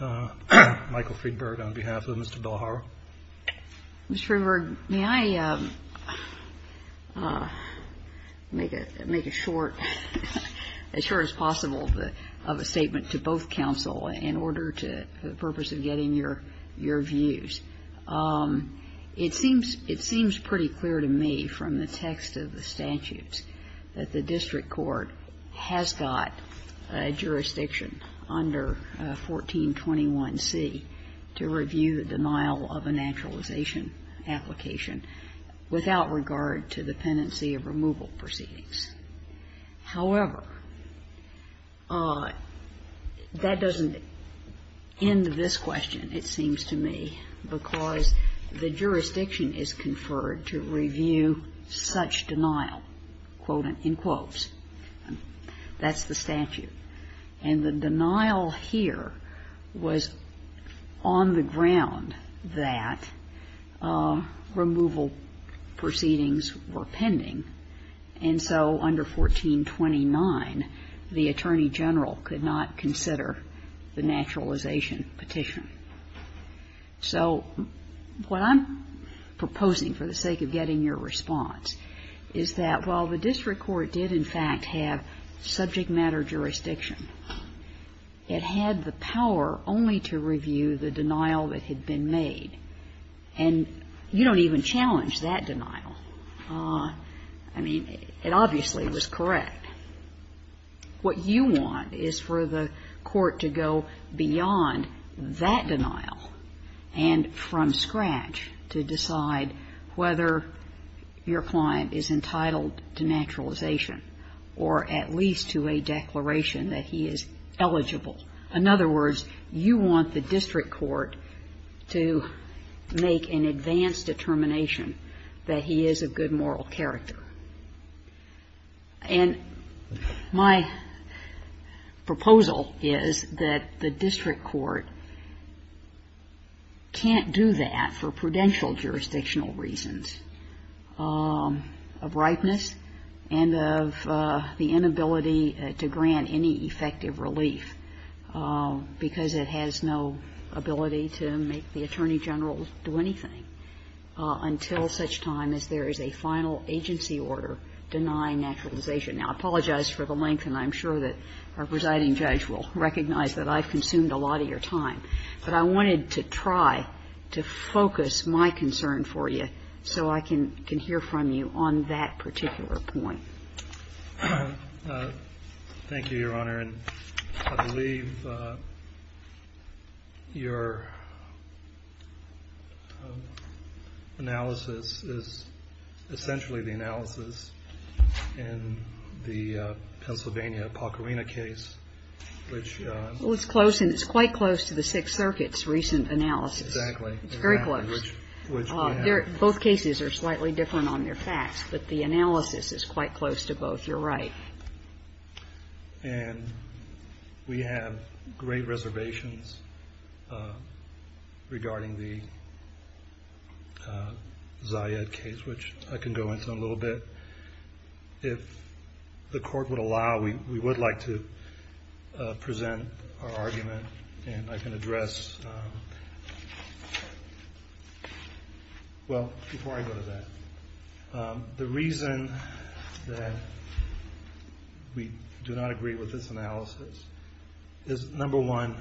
Michael Friedberg on behalf of Mr. Bellajaro. Mr. Friedberg, may I make a short, as short as possible, of a statement to both counsel in order to, for the purpose of getting your views. It seems, it seems pretty clear to me from the text of the statutes that the district court has got a jurisdiction under 1421C to review the denial of a naturalization application without regard to the pendency of removal proceedings. However, that doesn't end this question, it seems to me, because the jurisdiction is conferred to review such denial, quote, unquote. That's the statute. And the denial here was on the ground that removal proceedings were pending. And so under 1429, the Attorney General could not consider the naturalization petition. So what I'm proposing for the sake of getting your response is that while the district court did, in fact, have subject matter jurisdiction, it had the power only to review the denial that had been made. And you don't even challenge that denial. I mean, it obviously was correct. What you want is for the court to go beyond that denial and from scratch to decide whether your client is entitled to naturalization or at least to a declaration that he is eligible. In other words, you want the district court to make an advanced determination that he is of good moral character. And my proposal is that the district court can't do that for prudential jurisdictional reasons of ripeness and of the inability to grant any effective relief. Because it has no ability to make the Attorney General do anything until such time as there is a final agency order denying naturalization. Now, I apologize for the length, and I'm sure that our presiding judge will recognize that I've consumed a lot of your time. But I wanted to try to focus my concern for you so I can hear from you on that particular point. Thank you, Your Honor. And I believe your analysis is essentially the analysis in the Pennsylvania Pacarina case, which ---- Well, it's close, and it's quite close to the Sixth Circuit's recent analysis. Exactly. It's very close. Which we have. Both cases are slightly different on their facts. But the analysis is quite close to both. You're right. And we have great reservations regarding the Zayed case, which I can go into a little bit. If the Court would allow, we would like to present our argument. And I can address ---- Well, before I go to that, the reason that we do not agree with this analysis is, number one,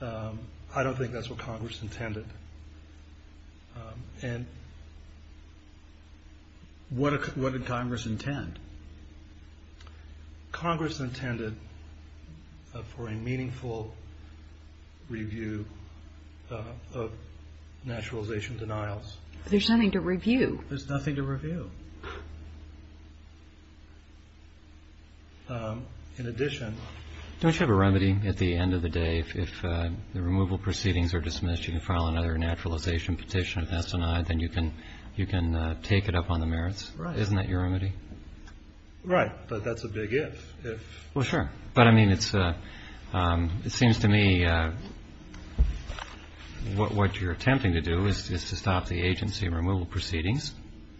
I don't think that's what Congress intended. And what did Congress intend? Congress intended for a meaningful review of naturalization denials. There's nothing to review. There's nothing to review. In addition ---- Don't you have a remedy at the end of the day? If the removal proceedings are dismissed, you can file another naturalization petition if that's denied. Then you can take it up on the merits. Right. Isn't that your remedy? Right. But that's a big if. Well, sure. But, I mean, it seems to me what you're attempting to do is to stop the agency removal proceedings.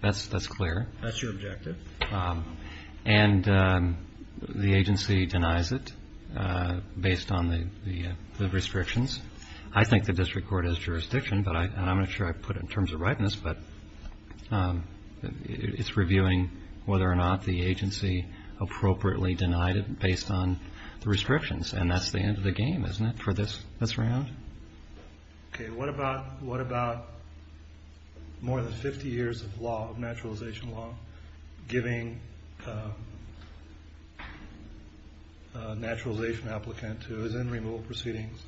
That's clear. That's your objective. And the agency denies it based on the restrictions. I think the district court has jurisdiction. And I'm not sure I put it in terms of rightness. But it's reviewing whether or not the agency appropriately denied it based on the restrictions. And that's the end of the game, isn't it, for this round? Okay. What about more than 50 years of naturalization law giving a naturalization applicant who is in removal proceedings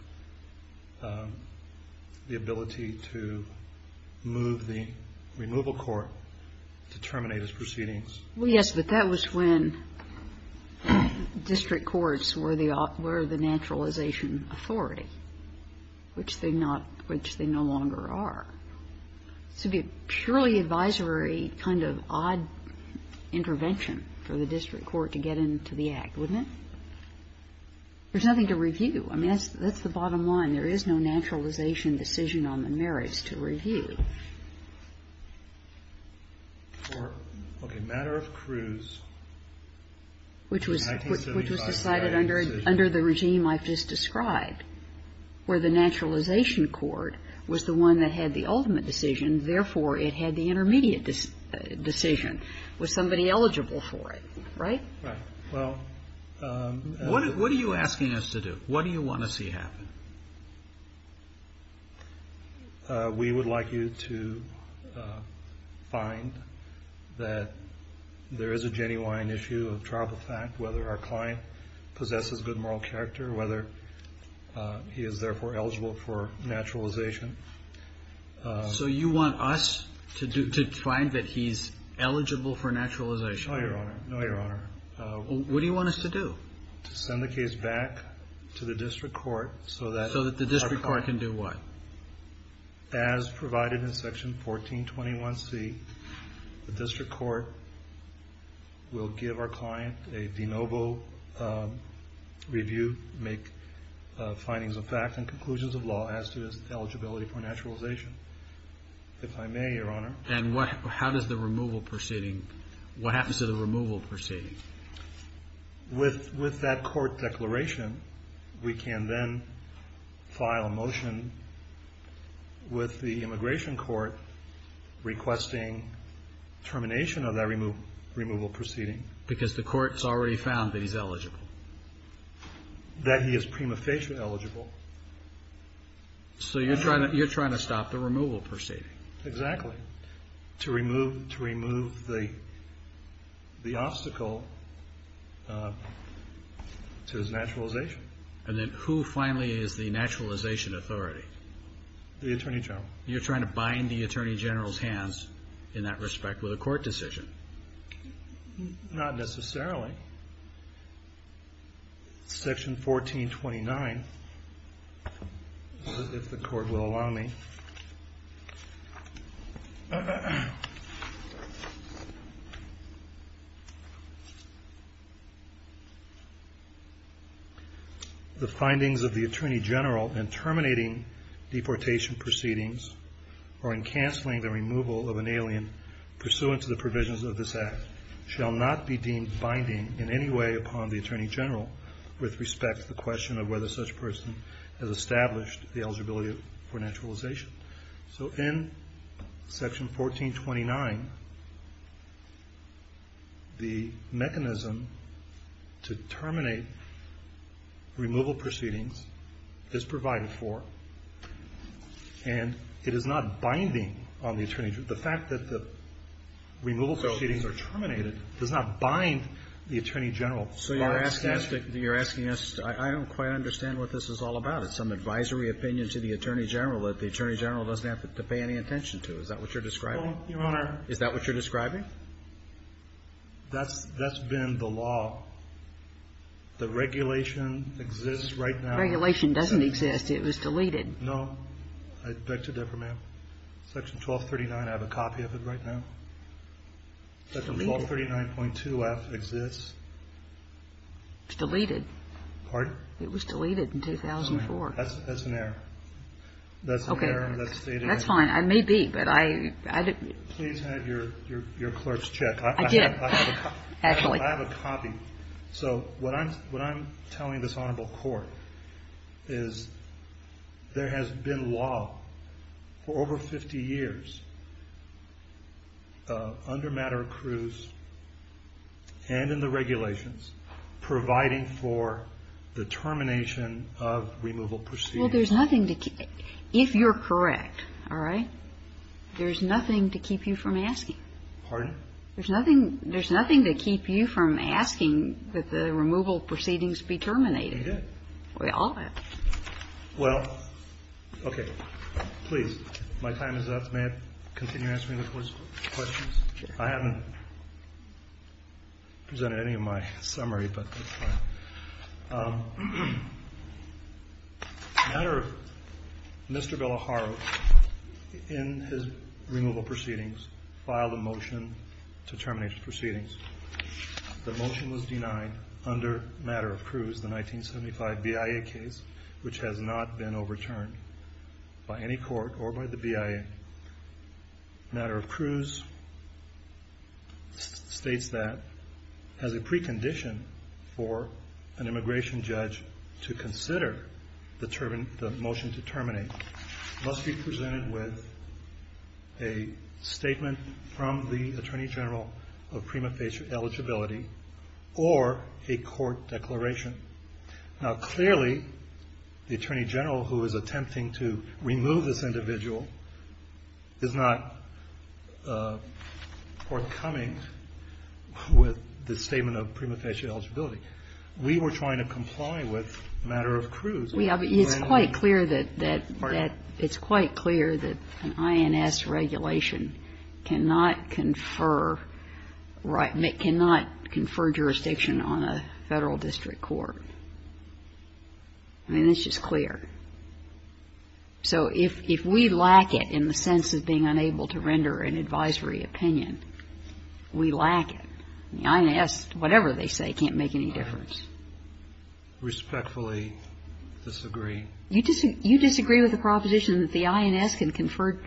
the ability to move the removal court to terminate his proceedings? Well, yes, but that was when district courts were the naturalization authority, which they no longer are. It would be a purely advisory kind of odd intervention for the district court to get into the Act, wouldn't it? There's nothing to review. I mean, that's the bottom line. There is no naturalization decision on the merits to review. Okay. Matter of Cruz. Which was decided under the regime I've just described, where the naturalization court was the one that had the ultimate decision. Therefore, it had the intermediate decision. Was somebody eligible for it, right? Right. What are you asking us to do? What do you want to see happen? We would like you to find that there is a genuine issue of trial by fact, whether our client possesses good moral character, whether he is, therefore, eligible for naturalization. So you want us to find that he's eligible for naturalization? No, Your Honor. No, Your Honor. What do you want us to do? To send the case back to the district court so that our client... So that the district court can do what? As provided in Section 1421C, the district court will give our client a de novo review, make findings of fact and conclusions of law as to his eligibility for naturalization, if I may, Your Honor. And how does the removal proceeding... What happens to the removal proceeding? With that court declaration, we can then file a motion with the immigration court requesting termination of that removal proceeding. Because the court has already found that he's eligible? That he is prima facie eligible. So you're trying to stop the removal proceeding? Exactly. To remove the obstacle to his naturalization. And then who finally is the naturalization authority? The Attorney General. You're trying to bind the Attorney General's hands in that respect with a court decision? Not necessarily. Section 1429, if the court will allow me. The findings of the Attorney General in terminating deportation proceedings or in canceling the removal of an alien pursuant to the provisions of this shall not be deemed binding in any way upon the Attorney General with respect to the question of whether such a person has established the eligibility for naturalization. So in Section 1429, the mechanism to terminate removal proceedings is provided for, and it is not binding on the Attorney General. The fact that the removal proceedings are terminated does not bind the Attorney General. So you're asking us to – I don't quite understand what this is all about. It's some advisory opinion to the Attorney General that the Attorney General doesn't have to pay any attention to. Is that what you're describing? Your Honor. Is that what you're describing? That's been the law. The regulation exists right now. The regulation doesn't exist. It was deleted. No. I beg to differ, ma'am. Section 1239, I have a copy of it right now. It's deleted. Section 1239.2F exists. It's deleted. Pardon? It was deleted in 2004. That's an error. Okay. That's an error. That's fine. It may be, but I didn't – Please have your clerk's check. I did. Actually. I have a copy. So what I'm telling this Honorable Court is there has been law for over 50 years under matter accrues and in the regulations providing for the termination of removal proceedings. Well, there's nothing to – if you're correct, all right, there's nothing to keep you from asking. Pardon? There's nothing to keep you from asking that the removal proceedings be terminated. We did. We all have. Well, okay. Please. My time is up. May I continue answering the Court's questions? I haven't presented any of my summary, but that's fine. The matter of Mr. Villajaro in his removal proceedings filed a motion to terminate the proceedings. The motion was denied under matter accrues, the 1975 BIA case, which has not been overturned by any court or by the BIA. Matter accrues states that as a precondition for an immigration judge to consider the motion to terminate must be presented with a statement from the Attorney General of prima facie eligibility or a court declaration. Now, clearly, the Attorney General who is attempting to remove this individual is not forthcoming with the statement of prima facie eligibility. We were trying to comply with matter accrues. It's quite clear that an INS regulation cannot confer jurisdiction on a Federal district court. I mean, it's just clear. So if we lack it in the sense of being unable to render an advisory opinion, we lack it. The INS, whatever they say, can't make any difference. Respectfully disagree. You disagree with the proposition that the INS can confer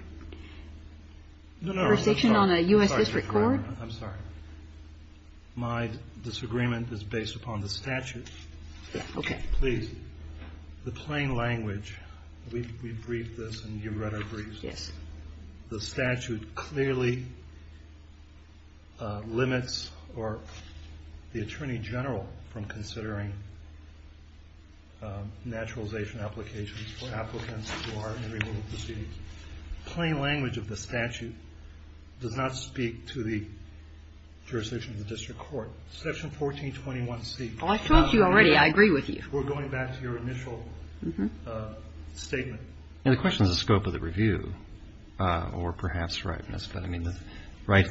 jurisdiction on a U.S. district court? I'm sorry. My disagreement is based upon the statute. Okay. Please. The plain language, we briefed this and you've read our briefs. Yes. The statute clearly limits the Attorney General from considering naturalization applications for applicants who are in removal proceedings. Plain language of the statute does not speak to the jurisdiction of the district court. Section 1421C. I've told you already, I agree with you. We're going back to your initial statement. The question is the scope of the review, or perhaps rightness. But I mean,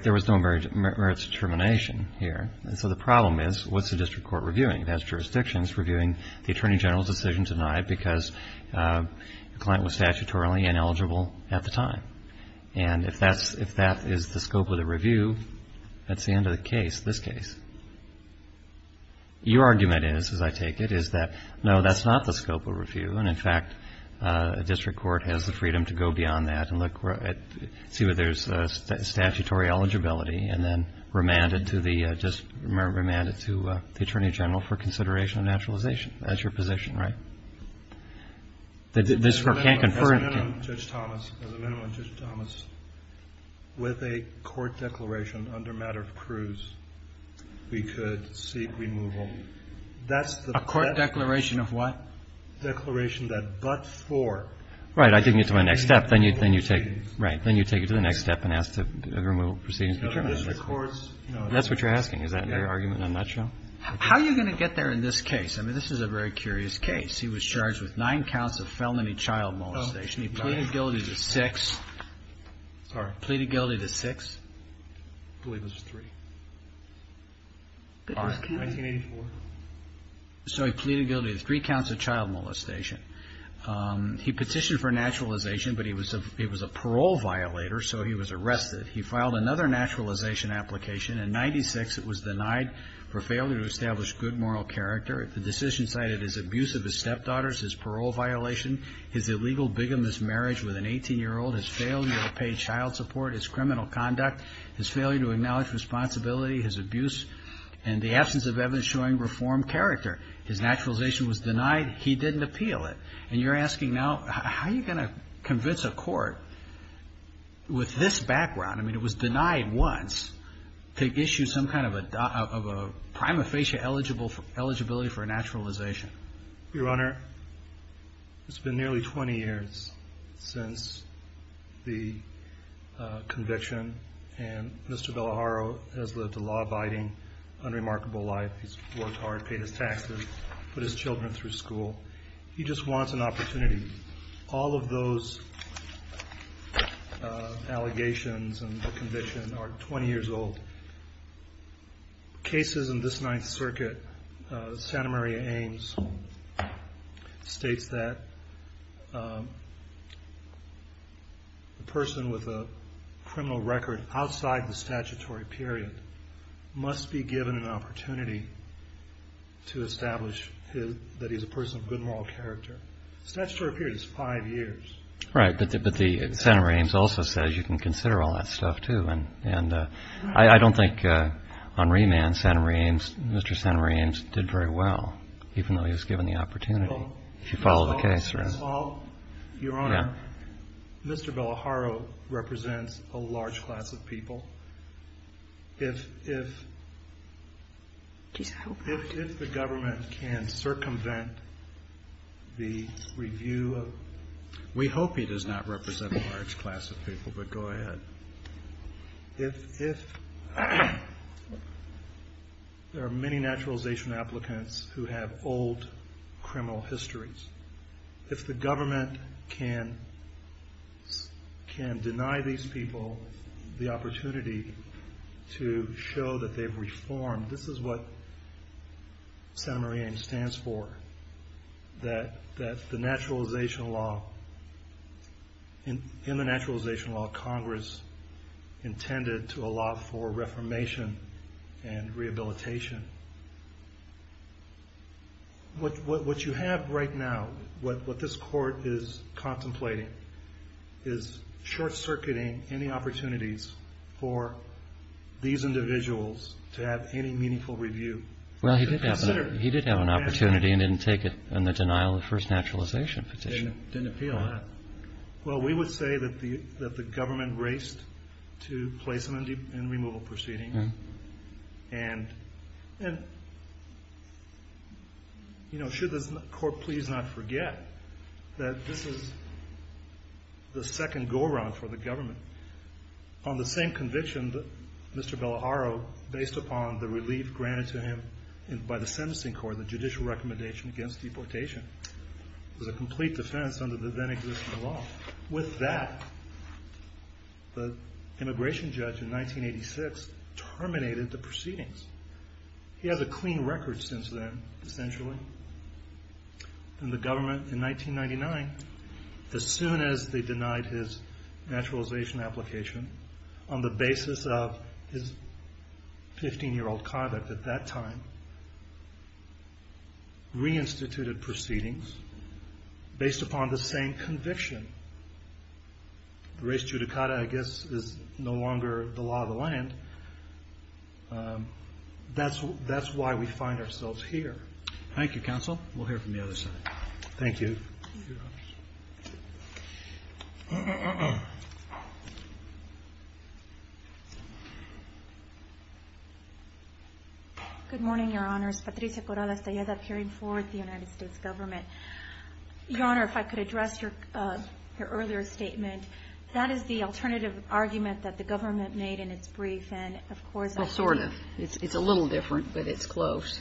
there was no merits determination here. So the problem is, what's the district court reviewing? It has jurisdictions reviewing the Attorney General's decision denied because the client was statutorily ineligible at the time. And if that is the scope of the review, that's the end of the case, this case. Your argument is, as I take it, is that, no, that's not the scope of review. And, in fact, a district court has the freedom to go beyond that and see whether there's statutory eligibility and then remand it to the Attorney General for consideration of naturalization. That's your position, right? The district court can't confer. As a minimum, Judge Thomas, as a minimum, Judge Thomas, with a court declaration under matter of cruise, we could seek removal. That's the best. A court declaration of what? Declaration that but for. Right. I didn't get to my next step. Then you take it. Right. Then you take it to the next step and ask the removal proceedings to be terminated. That's what you're asking. Is that your argument in a nutshell? How are you going to get there in this case? I mean, this is a very curious case. He was charged with nine counts of felony child molestation. He pleaded guilty to six. Sorry. Pleaded guilty to six. I believe it was three. 1984. So he pleaded guilty to three counts of child molestation. He petitioned for naturalization, but he was a parole violator, so he was arrested. He filed another naturalization application in 1996. It was denied for failure to establish good moral character. The decision cited his abuse of his stepdaughters, his parole violation, his illegal bigamous marriage with an 18-year-old, his failure to pay child support, his criminal conduct, his failure to acknowledge responsibility, his abuse, and the absence of evidence showing reformed character. His naturalization was denied. He didn't appeal it. And you're asking now, how are you going to convince a court with this background? I mean, it was denied once to issue some kind of a prima facie eligibility for naturalization. Your Honor, it's been nearly 20 years since the conviction, and Mr. Bellaharo has lived a law-abiding, unremarkable life. He's worked hard, paid his taxes, put his children through school. He just wants an opportunity. All of those allegations and the conviction are 20 years old. Cases in this Ninth Circuit, Santa Maria Ames states that a person with a criminal record outside the statutory period must be given an opportunity to establish that he's a person of good moral character. The statutory period is five years. Right. But Santa Maria Ames also says you can consider all that stuff, too. And I don't think on remand, Mr. Santa Maria Ames did very well, even though he was given the opportunity to follow the case. Your Honor, Mr. Bellaharo represents a large class of people. If the government can circumvent the review of – we hope he does not represent a large class of people, but go ahead. If there are many naturalization applicants who have old criminal histories, if the government can deny these people the opportunity to show that they've reformed, this is what Santa Maria Ames stands for, that in the naturalization law, Congress intended to allow for reformation and rehabilitation. What you have right now, what this Court is contemplating, is short-circuiting any opportunities for these individuals to have any meaningful review. Well, he did have an opportunity and didn't take it in the denial of the first naturalization petition. Didn't appeal, huh? Well, we would say that the government raced to place him in removal proceedings and should this Court please not forget that this is the second go-around for the government. On the same conviction, Mr. Bellaharo, based upon the relief granted to him by the sentencing court, the judicial recommendation against deportation, was a complete defense under the then-existing law. With that, the immigration judge in 1986 terminated the proceedings. He has a clean record since then, essentially. And the government, in 1999, as soon as they denied his naturalization application, on the basis of his 15-year-old conduct at that time, reinstituted proceedings based upon the same conviction. The res judicata, I guess, is no longer the law of the land. That's why we find ourselves here. Thank you, counsel. We'll hear from the other side. Thank you. Good morning, Your Honors. Patricia Corral Estella, appearing for the United States government. Your Honor, if I could address your earlier statement. That is the alternative argument that the government made in its brief and, of course, Well, sort of. It's a little different, but it's close.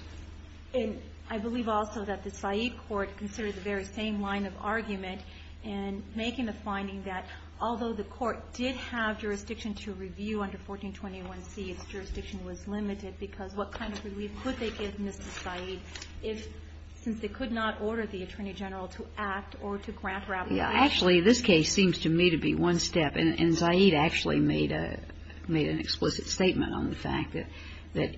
And I believe also that the Said court considered the very same line of argument in making the finding that, although the court did have jurisdiction to review under 1421C, its jurisdiction was limited, because what kind of relief could they give Mr. Said if, since they could not order the Attorney General to act or to grant her application? Actually, this case seems to me to be one step. And Said actually made a – made an explicit statement on the fact that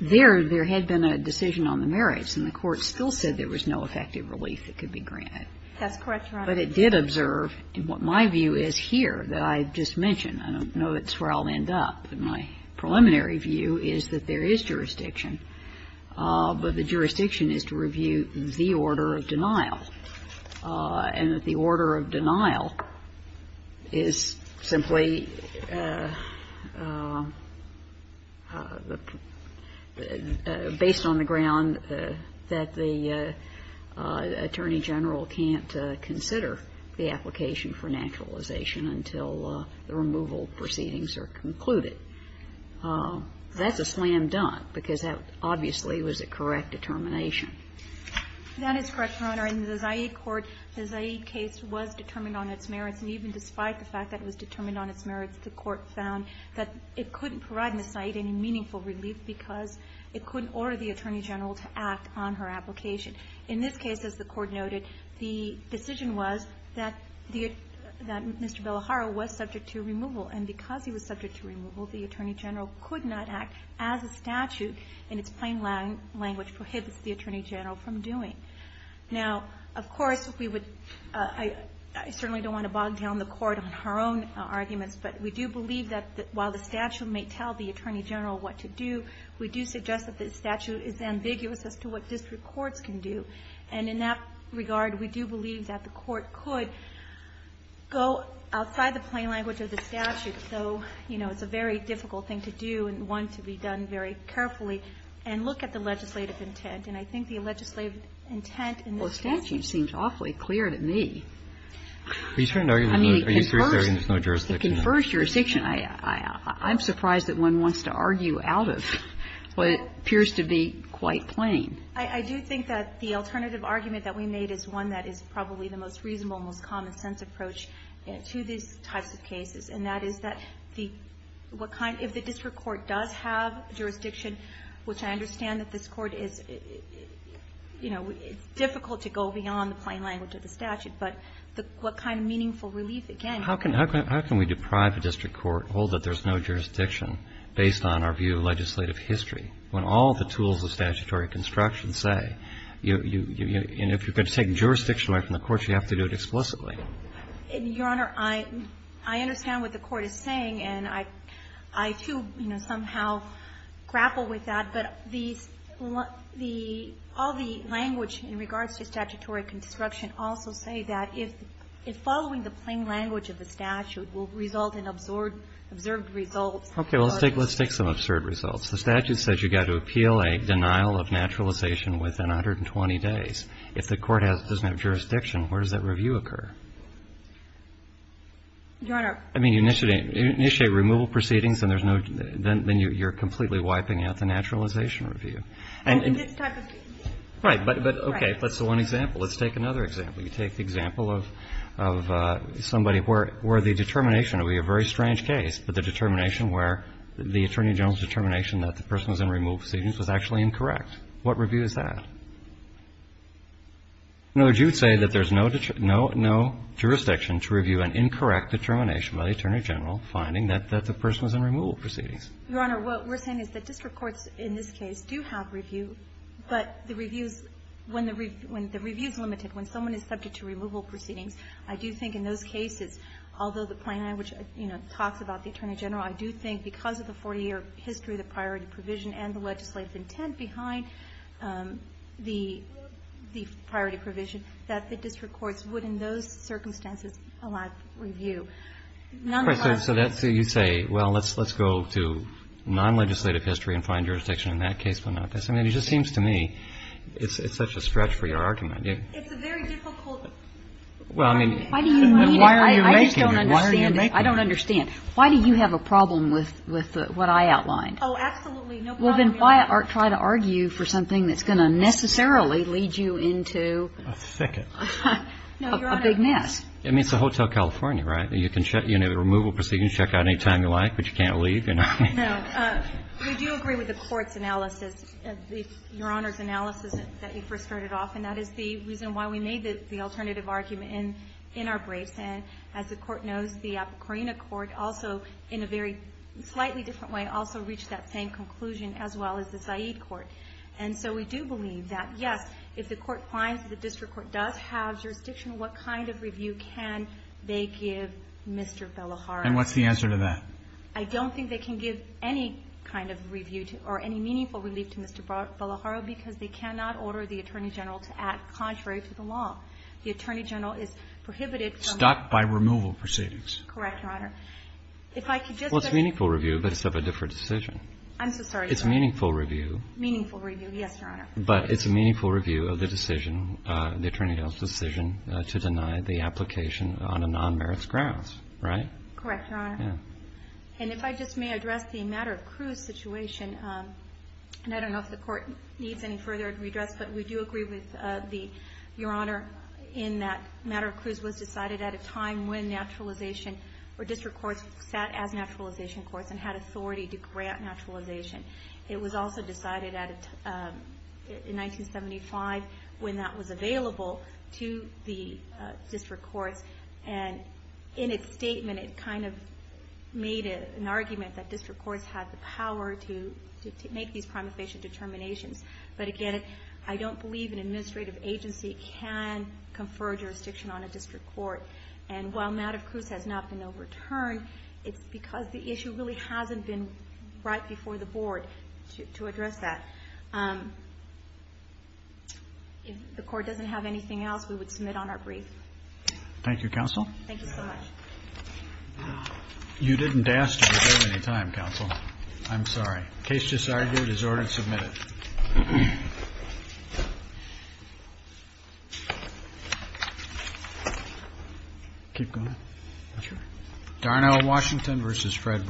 there had been a decision on the merits, and the court still said there was no effective relief that could be granted. That's correct, Your Honor. But it did observe what my view is here that I just mentioned. I don't know that's where I'll end up. But my preliminary view is that there is jurisdiction. But the jurisdiction is to review the order of denial. And that the order of denial is simply based on the ground that the Attorney General can't consider the application for naturalization until the removal proceedings are concluded. That's a slam dunk, because that obviously was a correct determination. That is correct, Your Honor. In the Said court, the Said case was determined on its merits. And even despite the fact that it was determined on its merits, the court found that it couldn't provide Ms. Said any meaningful relief because it couldn't order the Attorney General to act on her application. In this case, as the Court noted, the decision was that the – that Mr. Bellaharo was subject to removal. And because he was subject to removal, the Attorney General could not act as a statute in its plain language prohibits the Attorney General from doing. Now, of course, we would – I certainly don't want to bog down the Court on her own arguments. But we do believe that while the statute may tell the Attorney General what to do, we do suggest that the statute is ambiguous as to what district courts can do. And in that regard, we do believe that the Court could go outside the plain language of the statute. So, you know, it's a very difficult thing to do and one to be done very carefully and look at the legislative intent. And I think the legislative intent in this case – Kagan. Well, the statute seems awfully clear to me. I mean, it confers – Are you saying there's no jurisdiction? It confers jurisdiction. I'm surprised that one wants to argue out of what appears to be quite plain. I do think that the alternative argument that we made is one that is probably the most reasonable, most common-sense approach to these types of cases, and that is that the – what kind – if the district court does have jurisdiction, which I understand that this Court is – you know, it's difficult to go beyond the plain language of the statute. But what kind of meaningful relief, again – How can we deprive a district court, hold that there's no jurisdiction, based on our view of legislative history, when all the tools of statutory construction say you – and if you're going to take jurisdiction away from the courts, you have to do it explicitly? Your Honor, I understand what the Court is saying, and I, too, you know, somehow grapple with that, but the – all the language in regards to statutory construction also say that if following the plain language of the statute will result in absorbed – observed results. Okay. Well, let's take some absurd results. The statute says you've got to appeal a denial of naturalization within 120 days. If the court doesn't have jurisdiction, where does that review occur? Your Honor. I mean, you initiate removal proceedings and there's no – then you're completely wiping out the naturalization review. And in this type of case. Right. But, okay. That's the one example. Let's take another example. You take the example of somebody where the determination – it would be a very strange case, but the determination where the Attorney General's determination that the person was in removal proceedings was actually incorrect. What review is that? In other words, you would say that there's no jurisdiction to review an incorrect determination by the Attorney General finding that the person was in removal proceedings. Your Honor, what we're saying is that district courts in this case do have review, but the reviews – when the review is limited, when someone is subject to removal proceedings, I do think in those cases, although the plain language, you know, talks about the Attorney General, I do think because of the 40-year history, the priority circumstances allow review. None the less. Right. So that's who you say, well, let's go to non-legislative history and find jurisdiction in that case, but not this. I mean, it just seems to me it's such a stretch for your argument. It's a very difficult argument. Well, I mean. Why do you mean it? I just don't understand it. Why are you making it? I don't understand. Why do you have a problem with what I outlined? Oh, absolutely. No problem. Well, then why try to argue for something that's going to necessarily lead you into A thicket. No, Your Honor. A big mess. I mean, it's a Hotel California, right? You can check, you know, the removal proceedings, check out any time you like, but you can't leave, you know. No. We do agree with the Court's analysis, Your Honor's analysis that you first started off, and that is the reason why we made the alternative argument in our briefs. And as the Court knows, the Apicorina Court also, in a very slightly different way, also reached that same conclusion as well as the Zaid Court. And so we do believe that, yes, if the Court finds that the district court does have jurisdiction, what kind of review can they give Mr. Bellaharo? And what's the answer to that? I don't think they can give any kind of review to or any meaningful relief to Mr. Bellaharo because they cannot order the Attorney General to act contrary to the law. The Attorney General is prohibited from ---- Stuck by removal proceedings. Correct, Your Honor. If I could just ---- Well, it's meaningful review, but it's of a different decision. I'm so sorry, Your Honor. It's meaningful review. Meaningful review, yes, Your Honor. But it's a meaningful review of the decision, the Attorney General's decision to deny the application on a non-merits grounds, right? Correct, Your Honor. Yeah. And if I just may address the matter of cruise situation, and I don't know if the Court needs any further redress, but we do agree with the, Your Honor, in that matter of cruise was decided at a time when naturalization or district courts sat as naturalization courts and had authority to grant naturalization. It was also decided in 1975 when that was available to the district courts. And in its statement, it kind of made an argument that district courts had the power to make these prima facie determinations. But, again, I don't believe an administrative agency can confer jurisdiction on a district court. And while matter of cruise has not been overturned, it's because the issue really hasn't been right before the Board to address that. If the Court doesn't have anything else, we would submit on our brief. Thank you, Counsel. Thank you so much. You didn't ask to do that many times, Counsel. I'm sorry. The case just argued is ordered submitted. Keep going. Sure. Darnell Washington v. Fred Brown.